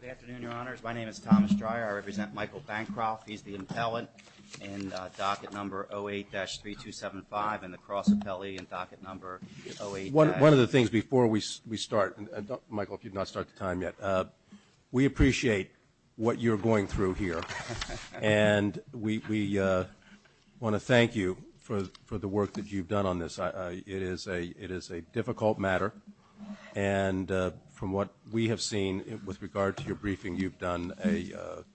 Good afternoon, Your Honors. My name is Thomas Dreyer. I represent Michael Bancroft. He's the appellant in docket number 08-3275 and the cross appellee in docket number 08- One of the things before we start, Michael, if you'd not start the time yet, we appreciate what you're going through here, and we want to thank you for the work that you've done on this. It is a difficult matter, and from what we have seen with regard to your briefing, you've done a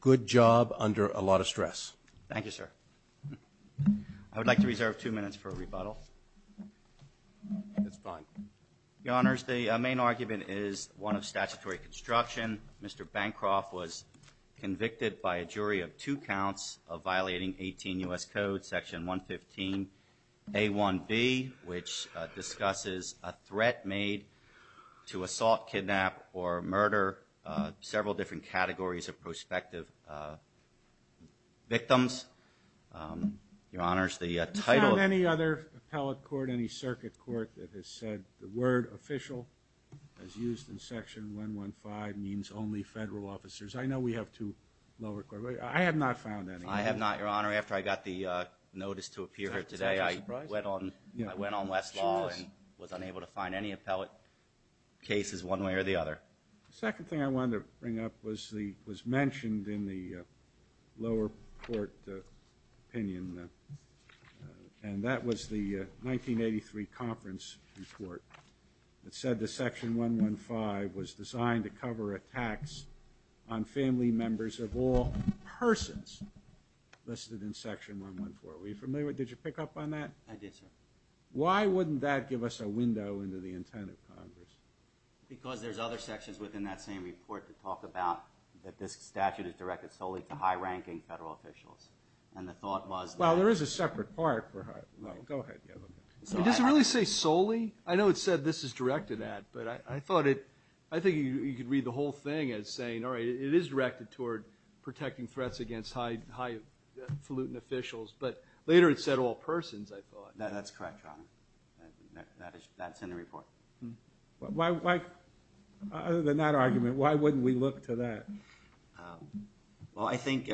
good job under a lot of stress. Michael Bancroft Thank you, sir. I would like to reserve two minutes for a rebuttal. Your Honors, the main argument is one of statutory construction. Mr. Bancroft was convicted by a jury of two counts of violating 18 U.S. Code, Section 115A1B, which discusses a threat made to assault, kidnap, or murder several different categories of prospective victims. Your Honors, the title of- Justice Breyer Any other appellate court, any circuit court that has said the word official as used in Section 115 means only federal officers. I know we have two lower court- I have not found any. Michael Bancroft I have not, Your Honor. After I got the notice to appear here today, I went on Westlaw and was unable to find any appellate cases one way or the other. Justice Breyer The second thing I wanted to bring up was mentioned in the lower court opinion, and that was the 1983 conference report that said that Section 115 was designed to cover attacks on family members of all persons listed in Section 114. Were you familiar with that? Did you pick up on that? Michael Bancroft I did, sir. Justice Breyer Why wouldn't that give us a window into the intent of Congress? Michael Bancroft Because there's other sections within that same report that talk about that this statute is directed solely to high-ranking federal officials, and the thought was that- Justice Breyer Well, there is a separate part for- no, go ahead. It doesn't really say solely. I know it said this is directed at, but I thought it- I think you could read the whole thing as saying, all right, it is directed toward protecting threats against highfalutin officials, but later it said all persons, I thought. Michael Bancroft That's correct, Your Honor. That's in the report. Justice Breyer Why- other than that argument, why wouldn't we look to that? Michael Bancroft Well, I think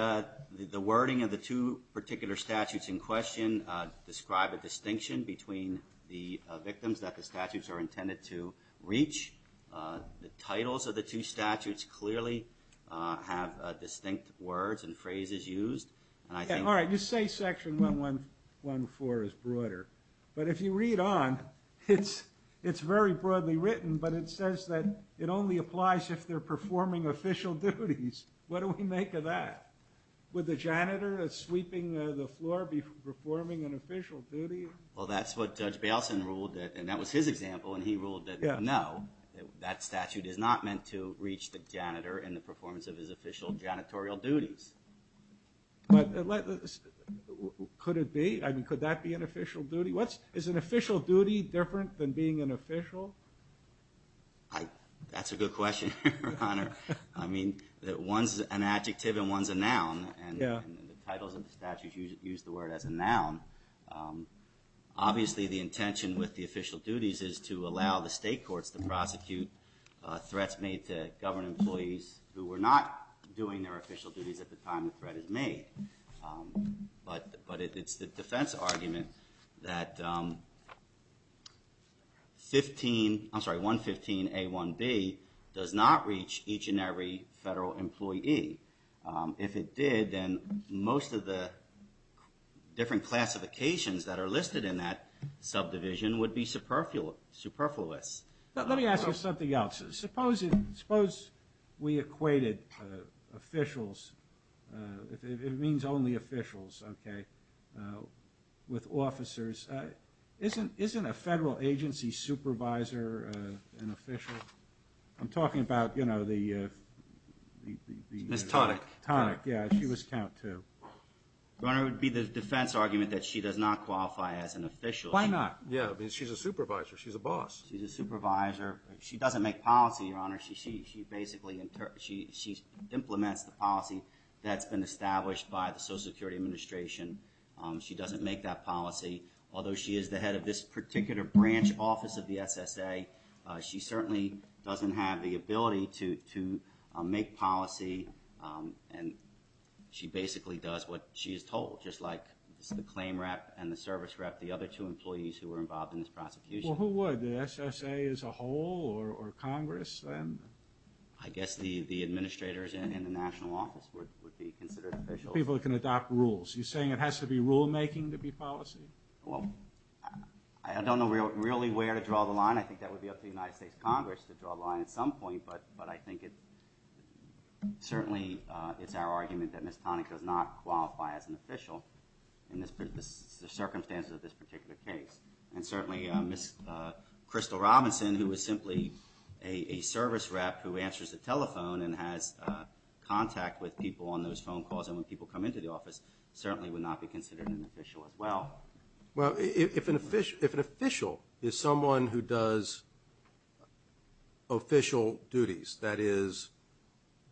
the wording of the two particular statutes in question describe a distinction between the victims that the statutes are intended to reach. The titles of the two statutes clearly have distinct words and phrases used, and I think- very broadly written, but it says that it only applies if they're performing official duties. What do we make of that? Would the janitor sweeping the floor be performing an official duty? Justice Breyer Well, that's what Judge Bailson ruled, and that was his example, and he ruled that no, that statute is not meant to reach the janitor in the performance of his official janitorial duties. Michael Bancroft But let's- could it be? I mean, could that be an official duty? What's- than being an official? Justice Breyer That's a good question, Your Honor. I mean, one's an adjective and one's a noun. Michael Bancroft Yeah. Justice Breyer And the titles of the statutes use the word as a noun. Obviously, the intention with the official duties is to allow the state courts to prosecute threats made to government employees who were not doing their official duties at the time the threat is made. But it's the defense argument that 15- I'm sorry, 115A1B does not reach each and every federal employee. If it did, then most of the different classifications that are listed in that subdivision would be superfluous. Michael Bancroft Let me ask you something else. Suppose we equated officials- it means only officials, okay- with officers. Isn't a federal agency supervisor an official? I'm talking about, you know, the- Justice Breyer Ms. Tonic. Michael Bancroft Tonic, yeah. She was count too. Justice Breyer Your Honor, it would be the defense argument that she does not qualify as an official. Michael Bancroft Why not? Justice Breyer Yeah, I mean, she's a supervisor. She's a Michael Bancroft She's a supervisor. She doesn't make policy, Your Honor. She basically implements the policy that's been established by the Social Security Administration. She doesn't make that policy. Although she is the head of this particular branch office of the SSA, she certainly doesn't have the ability to make policy. And she basically does what she is told, just like the claim rep and the service rep, the other two employees who were in charge of the SSA. Justice Breyer Okay. Michael Bancroft Well, who would? The SSA as a whole or Congress then? Justice Breyer I guess the administrators in the national office would be considered officials. Michael Bancroft People who can adopt rules. You're saying it has to be rulemaking to be policy? Justice Breyer Well, I don't know really where to draw the line. I think that would be up to the United States Congress to draw the line at some point. But I think it certainly, it's our argument that Ms. Tonic does not qualify as an official in the circumstances of this particular case. And certainly Ms. Crystal Robinson, who is simply a service rep who answers the telephone and has contact with people on those phone calls and when people come into the office, certainly would not be considered an official as well. Justice Breyer Well, if an official is someone who does official duties, that is,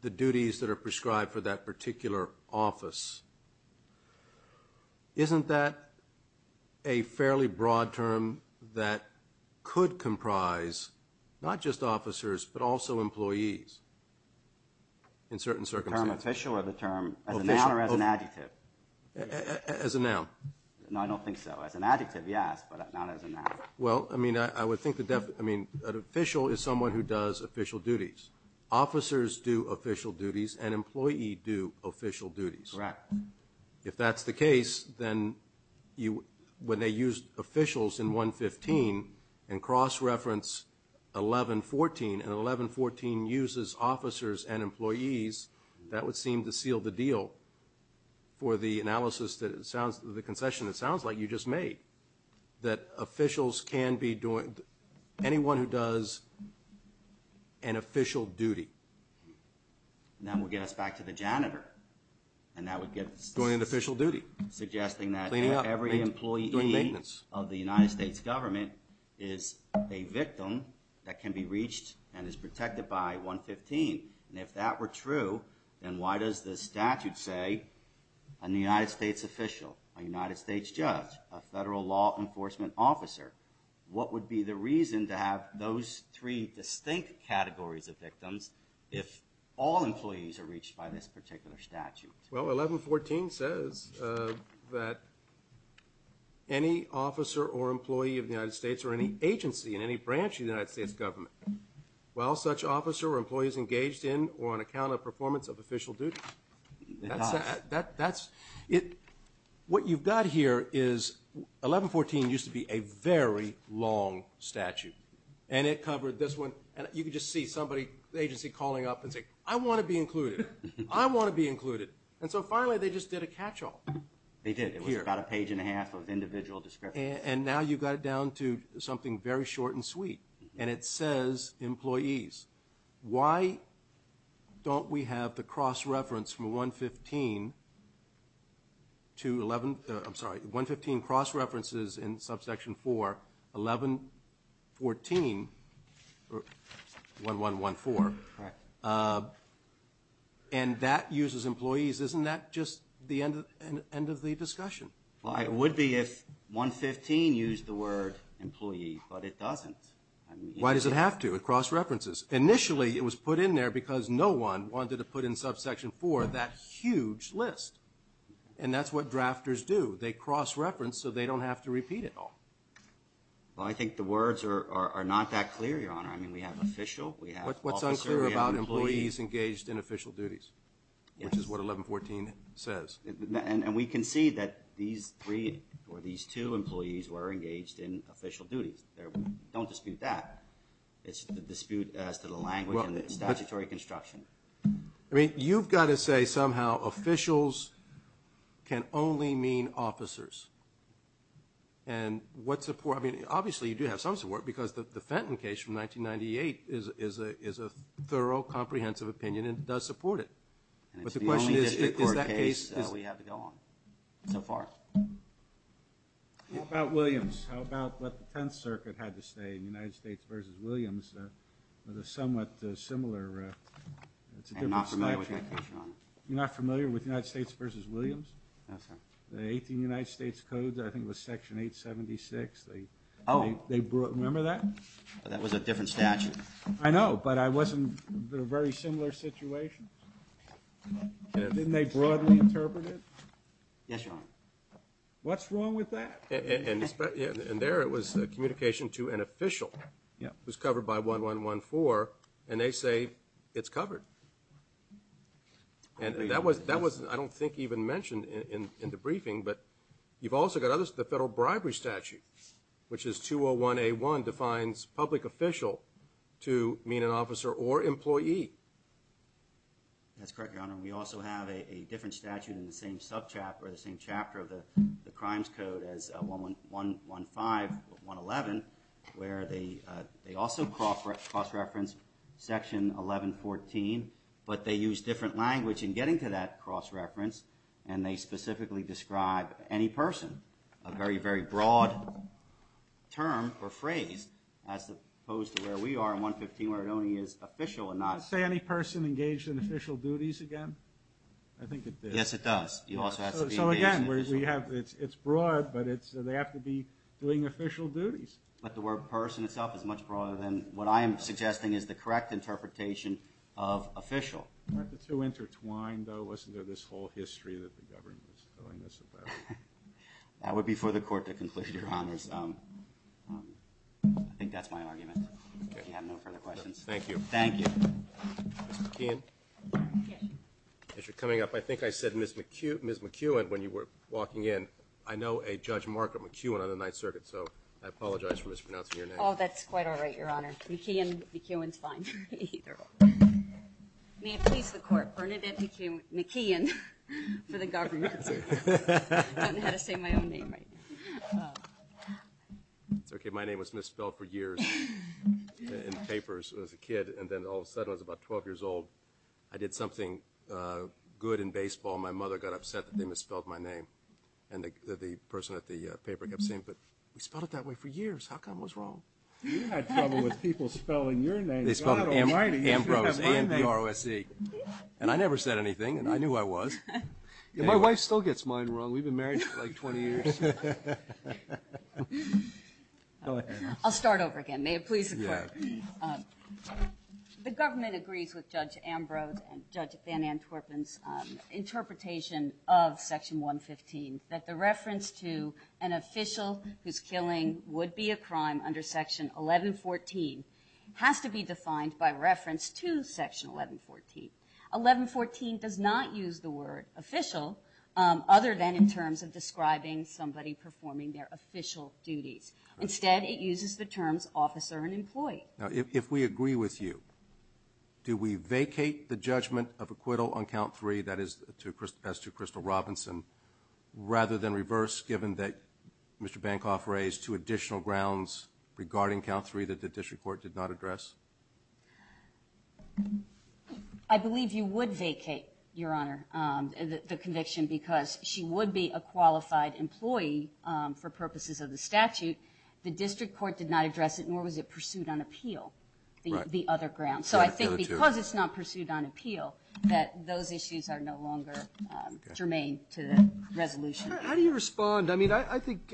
the duties that are prescribed for that particular office, isn't that a fairly broad term that could comprise not just officers, but also employees in certain circumstances? Michael Bancroft The term official or the term as a noun or as an adjective? Justice Breyer As a noun. Michael Bancroft No, I don't think so. As an adjective, yes, but not as a noun. Justice Breyer Well, I mean, I would think the, I mean, an official is someone who does official duties. Officers do official duties and employees do official duties. Michael Bancroft Correct. Justice Breyer If that's the case, then you, when they use officials in 115 and cross-reference 1114, and 1114 uses officers and employees, that would seem to seal the deal for the analysis that it sounds, the concession that sounds like you just made, that officials can be doing, anyone who does an official duty. And that would get us back to the janitor, and that would get us Michael Bancroft Doing an official duty. Justice Breyer Suggesting that every employee of the United States government is a victim that can be reached and is protected by 115. And if that were true, then why does the statute say, a United States official, a United States judge, a federal law enforcement officer, what would be the reason to have those three distinct categories of victims if all employees are reached by this particular statute? Michael Bancroft Well, 1114 says that any officer or employee of the United States or any agency in any branch of the United States government, while such officer or employee is engaged in or on account of performance of official duties. Justice Breyer It does. Michael Bancroft That's, what you've got here is, 1114 used to be a very long statute. And it covered this one, and you can just see somebody, the agency calling up and saying, I want to be included. I want to be included. And so finally they just did a catch-all. Justice Breyer They did. It was about a page and a half of individual descriptions. Michael Bancroft And now you've got it down to something very short and sweet. And it says, employees, why don't we have the cross-reference from 115 to 11, I'm sorry, 115 cross-references in subsection 4, 1114, 1114. And that uses employees. Isn't that just the end of the discussion? Justice Breyer Well, it would be if 115 used the word employee, but it doesn't. Michael Bancroft Why does it have to? It cross-references. Initially it was put in there because no one wanted to put in subsection 4 that huge list. And that's what drafters do. They cross-reference so they don't have to repeat it all. Justice Breyer Well, I think the words are not that clear, Your Honor. I mean, we have official. We have officer. We have employee. Michael Bancroft What's unclear about employees engaged in official duties, which is what 1114 says? Justice Breyer And we can see that these three or these two employees were engaged in official duties. Don't dispute that. It's the dispute as to the language and the statutory construction. I mean, you've got to say somehow officials can only mean officers. And what support? I mean, obviously you do have some support because the Fenton case from 1998 is a thorough, comprehensive opinion and it does support it. Michael Bancroft And it's the only district court case we have to go on so far. Justice Breyer How about Williams? How about what the Tenth Circuit had to say in the United States v. Williams with a somewhat similar statute? Michael Bancroft I'm not familiar with that case, Your Honor. Justice Breyer You're not familiar with United States v. Williams? Michael Bancroft No, sir. Justice Breyer The 18 United States Codes, I think it was Section 876. Michael Bancroft Oh. Justice Breyer Remember that? Michael Bancroft That was a different statute. Justice Breyer I know, but I wasn't in a very similar situation. Didn't they broadly interpret it? Michael Bancroft Yes, Your Honor. Justice Breyer What's wrong with that? Justice Breyer And there it was communication to an official. Michael Bancroft Yes. Justice Breyer It was covered by 1114, and they say it's covered. And that was, I don't think even mentioned in the briefing, but you've also got the Federal Bribery Statute, which is 201A1 defines public official to mean an officer or employee. Michael Bancroft That's correct, Your Honor. We also have a different statute in the same subchapter, the same chapter of the Crimes 111, where they also cross-reference Section 1114, but they use different language in getting to that cross-reference, and they specifically describe any person, a very, very broad term or phrase as opposed to where we are in 115, where it only is official and not... Justice Breyer Does it say any person engaged in official duties again? I think it does. Michael Bancroft Yes, it does. You also have to be engaged in official duties. But they have to be doing official duties. Justice Breyer But the word person itself is much broader than what I am suggesting is the correct interpretation of official. Michael Bancroft Aren't the two intertwined, though? Wasn't there this whole history that the government was telling us about? Justice Breyer That would be for the Court to conclude, Your Honor. I think that's my argument, if you have no further questions. Michael Bancroft Thank you. Justice Breyer Thank you. Michael Bancroft Mr. McKeon? Ms. McKeon Yes. Michael Bancroft As you're coming up, I think I said Ms. McKeon when you were walking in. I know a Judge Mark McKeon on the Ninth Circuit. So I apologize for mispronouncing your name. Ms. McKeon Oh, that's quite all right, Your Honor. McKeon. McKeon is fine. May it please the Court, Bernadette McKeon for the government. I don't know how to say my own name right now. Justice Breyer It's okay. My name was misspelled for years in papers as a kid. And then all of a sudden, I was about 12 years old. I did something good in baseball. And my mother got upset that they misspelled my name. And the person at the paper kept saying, but we spelled it that way for years. How come it was wrong? Justice Breyer You had trouble with people spelling your name. You should have my name. McKeon They spelled Ambrose, A-M-B-R-O-S-E. And I never said anything. And I knew I was. Justice Breyer My wife still gets mine wrong. We've been married for like 20 years. Justice Breyer Go ahead. Ms. McKeon I'll start over again. May it please the Court. Justice Breyer Yes. Ms. McKeon The government agrees with Judge Ambrose and Judge Van Antwerpen's interpretation of Section 115 that the reference to an official whose killing would be a crime under Section 1114 has to be defined by reference to Section 1114. 1114 does not use the word official other than in terms of describing somebody performing their official duties. Instead, it uses the terms officer and employee. Justice Breyer Now, if we agree with you, do we vacate the judgment of acquittal on Count 3, that is as to Crystal Robinson, rather than reverse given that Mr. Bancroft raised two additional grounds regarding Count 3 that the district court did not address? Ms. McKeon I believe you would vacate, Your Honor, the conviction because she would be a qualified employee for purposes of the statute. The district court did not address it, nor was it pursued on appeal, the other grounds. So I think because it's not pursued on appeal, that those issues are no longer germane to the resolution. Justice Breyer How do you respond? I mean, I think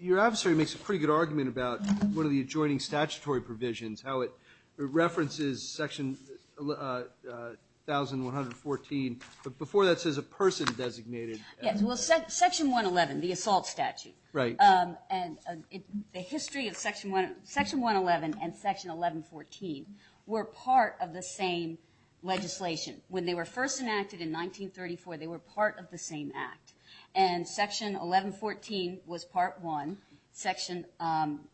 your adversary makes a pretty good argument about one of the adjoining statutory provisions, how it references Section 1114, but before that says a person designated. Ms. McKeon Yes, well, Section 111, the assault statute. Justice Breyer Right. Ms. McKeon And the history of Section 111 and Section 1114 were part of the same legislation. When they were first enacted in 1934, they were part of the same act. And Section 1114 was Part 1. Section,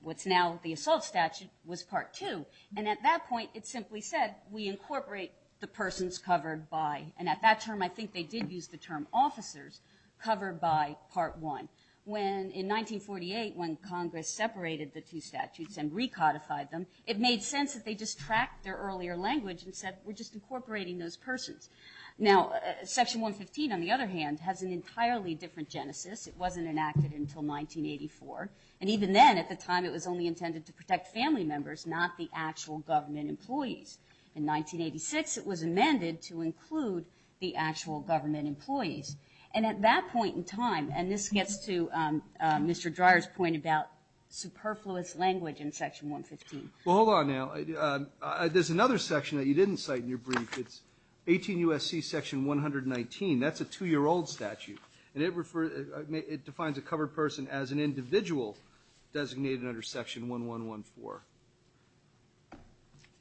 what's now the assault statute, was Part 2. And at that point, it simply said, we incorporate the persons covered by. And at that term, I think they did use the term officers covered by Part 1. When in 1948, when Congress separated the two statutes and recodified them, it made sense that they just tracked their earlier language and said, we're just incorporating those persons. Now, Section 115, on the other hand, has an entirely different genesis. It wasn't enacted until 1984. And even then, at the time, it was only intended to protect family members, not the actual government employees. In 1986, it was amended to include the actual government employees. And at that point in time, and this gets to Mr. Dreyer's point about superfluous language in Section 115. Roberts Well, hold on now. There's another section that you didn't cite in your brief. It's 18 U.S.C. Section 119. That's a 2-year-old statute. And it refers to, it defines a covered person as an individual designated under Section 1114.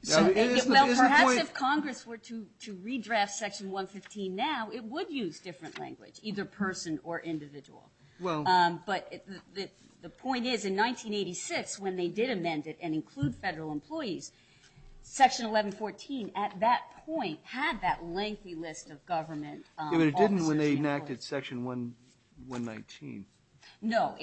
Now, is the point. If Congress were to redraft Section 115 now, it would use different language, either person or individual. But the point is, in 1986, when they did amend it and include federal employees, Section 1114, at that point, had that lengthy list of government officers. It didn't when they enacted Section 119. No.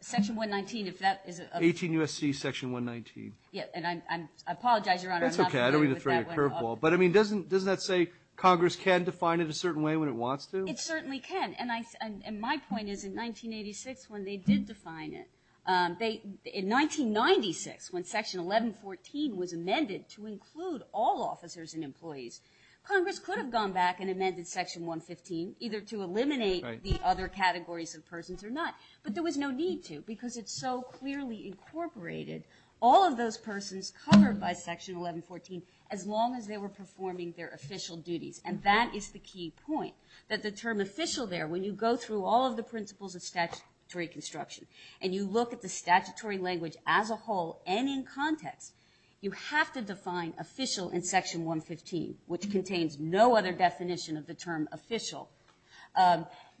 Section 119, if that is a... 18 U.S.C. Section 119. And I apologize, Your Honor. That's okay. I don't mean to throw you a curveball. But, I mean, doesn't that say Congress can define it a certain way when it wants to? It certainly can. And my point is, in 1986, when they did define it, in 1996, when Section 1114 was amended to include all officers and employees, Congress could have gone back and amended Section 115, either to eliminate the other categories of persons or not. But there was no need to because it so clearly incorporated all of those persons covered by Section 1114 as long as they were performing their official duties. And that is the key point, that the term official there, when you go through all of the principles of statutory construction and you look at the statutory language as a whole and in context, you have to define official in Section 115, which contains no other definition of the term official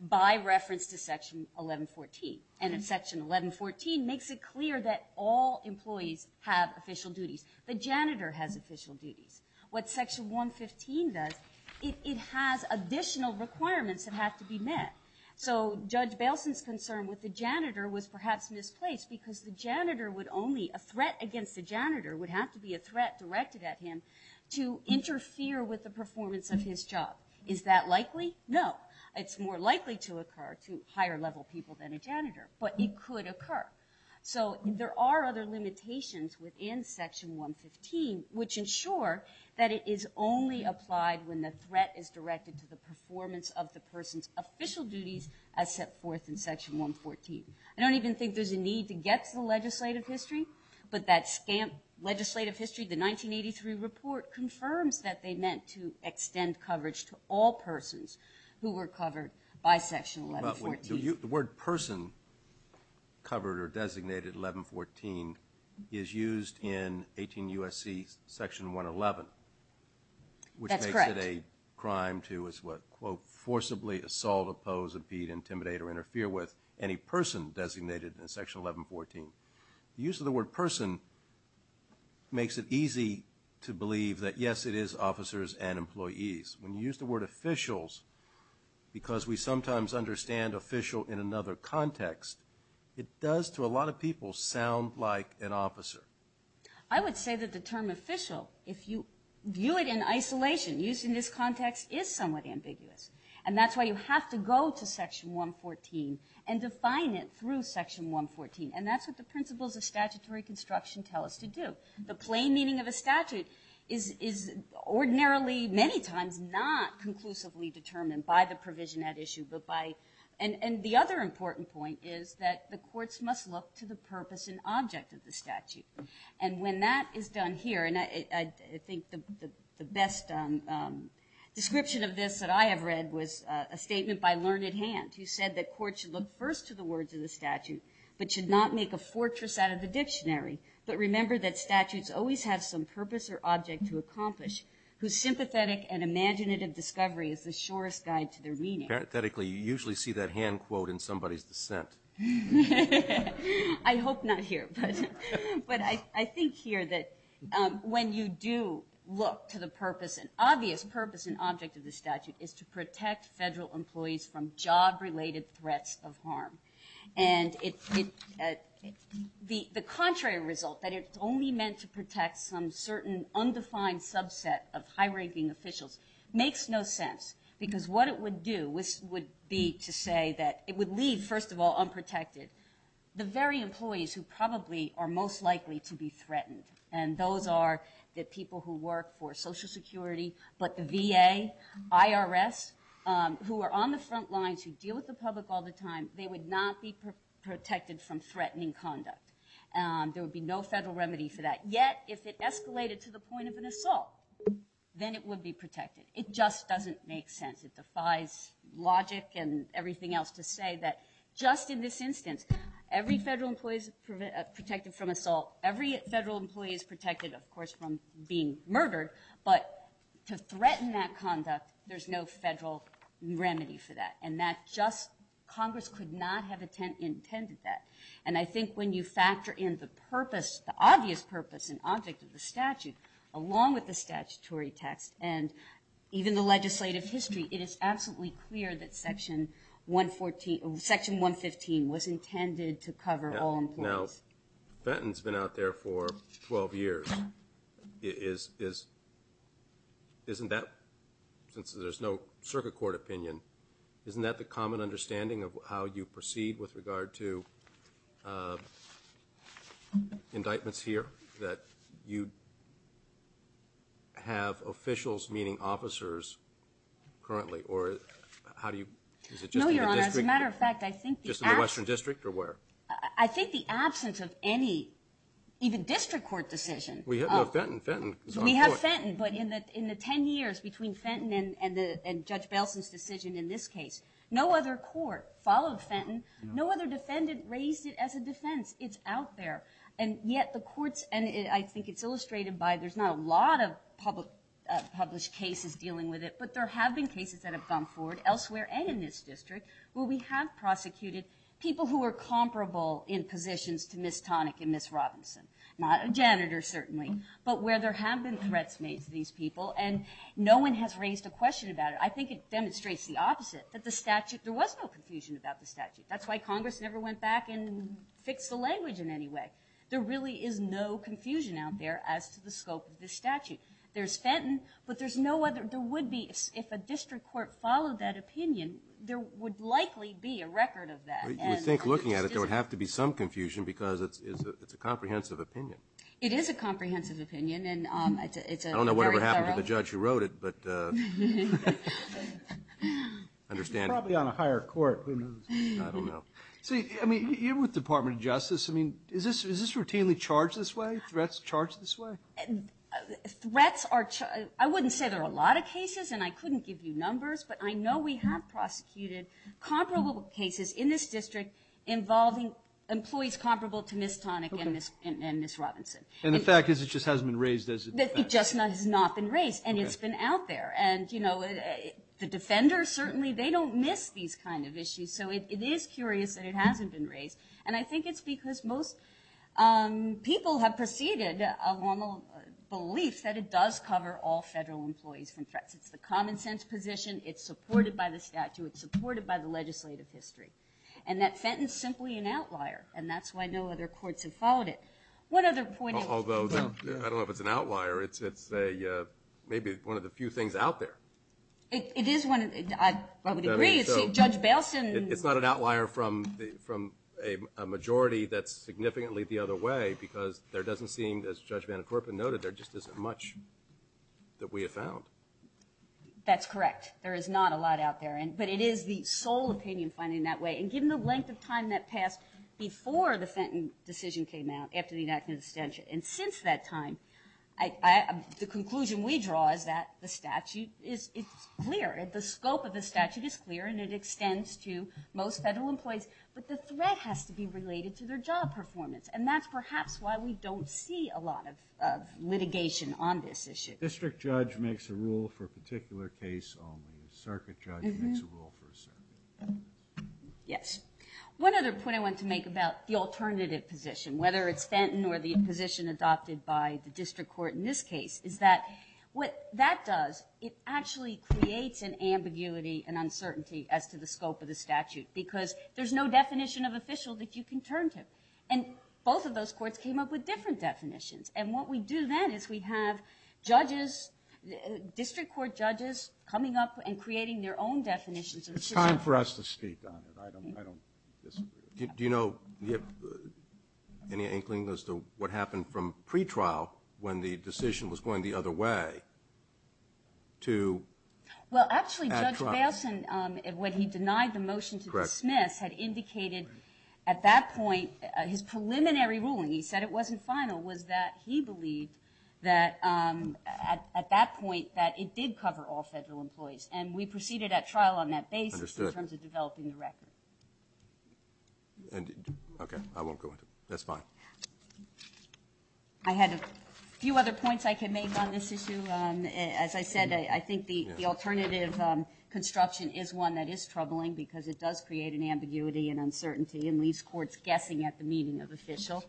by reference to Section 1114. And Section 1114 makes it clear that all employees have official duties. The janitor has official duties. What Section 115 does, it has additional requirements that have to be met. So Judge Bailson's concern with the janitor was perhaps misplaced because the janitor would only, a threat against the janitor would have to be a threat directed at him to interfere with the performance of his job. Is that likely? No. It's more likely to occur to higher level people than a janitor, but it could occur. So there are other limitations within Section 115, which ensure that it is only applied when the threat is directed to the performance of the person's official duties as set forth in Section 114. I don't even think there's a need to get to the legislative history, but that SCAMP legislative history, the 1983 report, confirms that they meant to extend coverage to all persons who were covered by Section 1114. The word person covered or designated 1114 is used in 18 U.S.C. Section 111. That's correct. Which makes it a crime to, quote, forcibly assault, oppose, impede, intimidate, or interfere with any person designated in Section 1114. The use of the word person makes it easy to believe that, yes, it is officers and employees. When you use the word officials, because we sometimes understand official in another context, it does to a lot of people sound like an officer. I would say that the term official, if you view it in isolation, used in this context, is somewhat ambiguous. And that's why you have to go to Section 114 and define it through Section 114. And that's what the principles of statutory construction tell us to do. The plain meaning of a statute is ordinarily many times not conclusively determined by the provision at issue, and the other important point is that the courts must look to the purpose and object of the statute. And when that is done here, and I think the best description of this that I have read was a statement by Learned Hand, who said that courts should look first to the words of the statute, but should not make a fortress out of the dictionary, but remember that statutes always have some purpose or object to accomplish, whose sympathetic and imaginative discovery is the surest guide to their meaning. Parenthetically, you usually see that hand quote in somebody's dissent. I hope not here, but I think here that when you do look to the purpose, an obvious purpose and object of the statute is to protect federal employees from job-related threats of harm. And the contrary result, that it's only meant to protect some certain undefined subset of high-ranking officials, makes no sense, because what it would do would be to say that it would leave, first of all, unprotected, the very employees who probably are most likely to be threatened. And those are the people who work for Social Security, but the VA, IRS, who are on the front lines, who deal with the public all the time, they would not be protected from threatening conduct. There would be no federal remedy for that. Yet, if it escalated to the point of an assault, then it would be protected. It just doesn't make sense. It defies logic and everything else to say that just in this instance, every federal employee is protected from assault. Every federal employee is protected, of course, from being murdered. But to threaten that conduct, there's no federal remedy for that. And that just – Congress could not have intended that. And I think when you factor in the purpose, the obvious purpose and object of the statute, along with the statutory text and even the legislative history, it is absolutely clear that Section 115 was intended to cover all employees. Now, Fenton's been out there for 12 years. Isn't that, since there's no circuit court opinion, isn't that the common understanding of how you proceed with regard to indictments here, that you have officials, meaning officers, currently? Or how do you – is it just in the district? No, Your Honor, as a matter of fact, I think the absence – Just in the Western District, or where? I think the absence of any – even district court decision. We have Fenton. Fenton is on the court. We have Fenton, but in the 10 years between Fenton and Judge Belson's decision in this case, no other court followed Fenton. No other defendant raised it as a defense. It's out there. And yet the courts – and I think it's illustrated by – there's not a lot of published cases dealing with it, but there have been cases that have gone forward elsewhere, and in this district, where we have prosecuted people who were comparable in positions to Ms. Tonick and Ms. Robinson. Not a janitor, certainly, but where there have been threats made to these people, and no one has raised a question about it. I think it demonstrates the opposite, that the statute – there was no confusion about the statute. That's why Congress never went back and fixed the language in any way. There really is no confusion out there as to the scope of the statute. There's Fenton, but there's no other – there would be – if a district court followed that opinion, there would likely be a record of that. You would think, looking at it, there would have to be some confusion because it's a comprehensive opinion. It is a comprehensive opinion, and it's a very thorough – I don't know whatever happened to the judge who wrote it, but – He's probably on a higher court. I don't know. See, I mean, you're with the Department of Justice. I mean, is this routinely charged this way, threats charged this way? Threats are – I wouldn't say there are a lot of cases, and I couldn't give you numbers, but I know we have prosecuted comparable cases in this district involving employees comparable to Ms. Tonick and Ms. Robinson. And the fact is it just hasn't been raised as a defense? It just has not been raised, and it's been out there. And, you know, the defenders, certainly, they don't miss these kind of issues. So it is curious that it hasn't been raised, and I think it's because most people have preceded a normal belief that it does cover all federal employees from threats. It's the common-sense position. It's supported by the statute. It's supported by the legislative history, and that Fenton's simply an outlier, and that's why no other courts have followed it. One other point – Although, I don't know if it's an outlier. It's maybe one of the few things out there. It is one. I would agree. Judge Bailson – It's not an outlier from a majority that's significantly the other way because there doesn't seem, as Judge VanCorpen noted, there just isn't much that we have found. That's correct. There is not a lot out there, but it is the sole opinion finding that way. And given the length of time that passed before the Fenton decision came out, after the enactment of the statute, and since that time, the conclusion we draw is that the statute is clear. The scope of the statute is clear, and it extends to most federal employees, but the threat has to be related to their job performance, and that's perhaps why we don't see a lot of litigation on this issue. A district judge makes a rule for a particular case only. A circuit judge makes a rule for a circuit. Yes. One other point I want to make about the alternative position, whether it's Fenton or the position adopted by the district court in this case, is that what that does, it actually creates an ambiguity and uncertainty as to the scope of the statute because there's no definition of official that you can turn to. And both of those courts came up with different definitions, and what we do then is we have judges, district court judges, coming up and creating their own definitions of official. It's time for us to speak on it. I don't disagree. Do you know any inkling as to what happened from pretrial when the decision was going the other way to at trial? Well, actually, Judge Bailson, when he denied the motion to dismiss, had indicated at that point his preliminary ruling, he said it wasn't final, was that he believed at that point that it did cover all federal employees, and we proceeded at trial on that basis in terms of developing the record. Okay, I won't go into it. That's fine. I had a few other points I can make on this issue. As I said, I think the alternative construction is one that is troubling because it does create an ambiguity and uncertainty and leaves courts guessing at the meaning of official.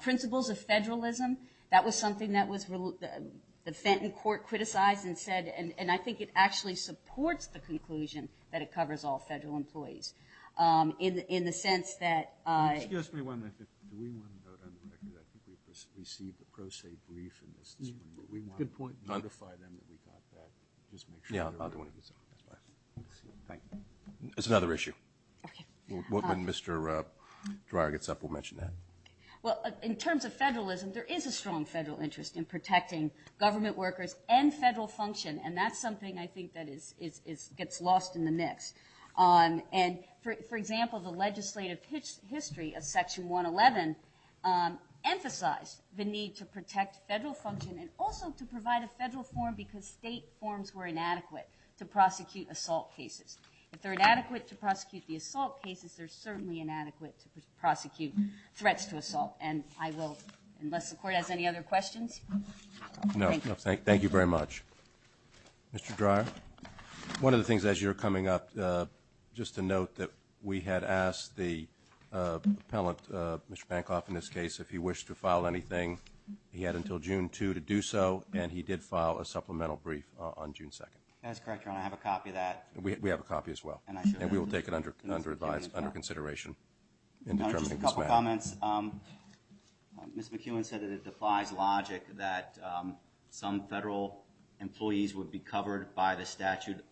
Principles of federalism, that was something that the Fenton court criticized and said, and I think it actually supports the conclusion that it covers all federal employees. In the sense that – Excuse me one minute. Do we want to go down the record? I think we received a pro se brief in this. Good point. We want to notify them that we got that. Yeah, I'll do it. It's another issue. When Mr. Dreyer gets up, we'll mention that. Well, in terms of federalism, there is a strong federal interest in protecting government workers and federal function, and that's something I think that gets lost in the mix. And, for example, the legislative history of Section 111 emphasized the need to protect federal function and also to provide a federal form because state forms were inadequate to prosecute assault cases. If they're inadequate to prosecute the assault cases, they're certainly inadequate to prosecute threats to assault. And I will, unless the court has any other questions. No, thank you very much. Mr. Dreyer, one of the things as you were coming up, just to note that we had asked the appellant, Mr. Bancroft in this case, if he wished to file anything. He had until June 2 to do so, and he did file a supplemental brief on June 2. That is correct, Your Honor. I have a copy of that. We have a copy as well, and we will take it under consideration in determining this matter. Just a couple comments. Ms. McEwen said that it defies logic that some federal employees would be covered by the statute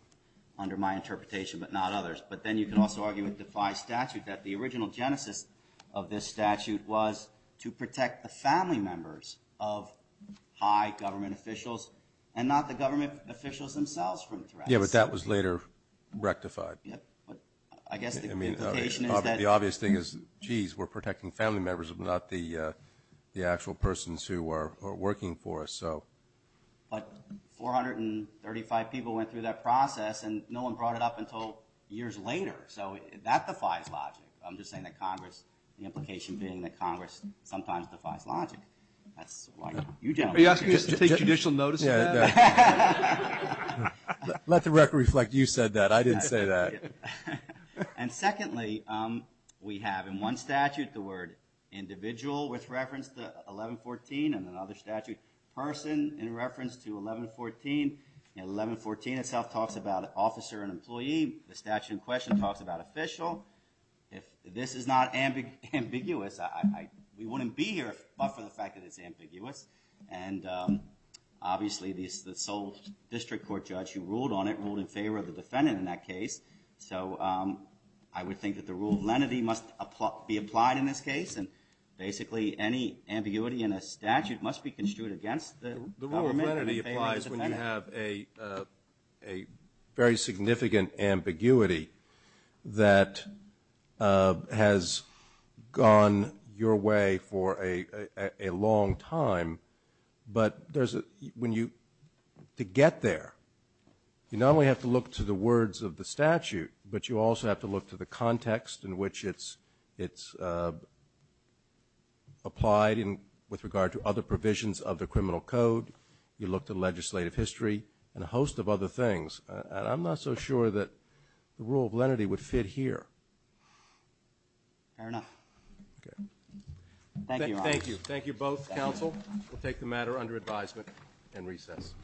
under my interpretation but not others. But then you can also argue it defies statute that the original genesis of this statute was to protect the family members of high government officials and not the government officials themselves from threats. Yeah, but that was later rectified. Yeah, but I guess the implication is that— the family members but not the actual persons who are working for us. But 435 people went through that process, and no one brought it up until years later. So that defies logic. I'm just saying that Congress, the implication being that Congress sometimes defies logic. That's why you don't. Are you asking us to take judicial notice of that? Let the record reflect you said that. I didn't say that. And secondly, we have in one statute the word individual with reference to 1114 and another statute person in reference to 1114. 1114 itself talks about officer and employee. The statute in question talks about official. If this is not ambiguous, we wouldn't be here but for the fact that it's ambiguous. And obviously the sole district court judge who ruled on it, so I would think that the rule of lenity must be applied in this case. And basically any ambiguity in a statute must be construed against the government. The rule of lenity applies when you have a very significant ambiguity that has gone your way for a long time. But to get there, you not only have to look to the words of the statute but you also have to look to the context in which it's applied with regard to other provisions of the criminal code. You look to legislative history and a host of other things. I'm not so sure that the rule of lenity would fit here. Thank you. Thank you both, counsel. We'll take the matter under advisement and recess.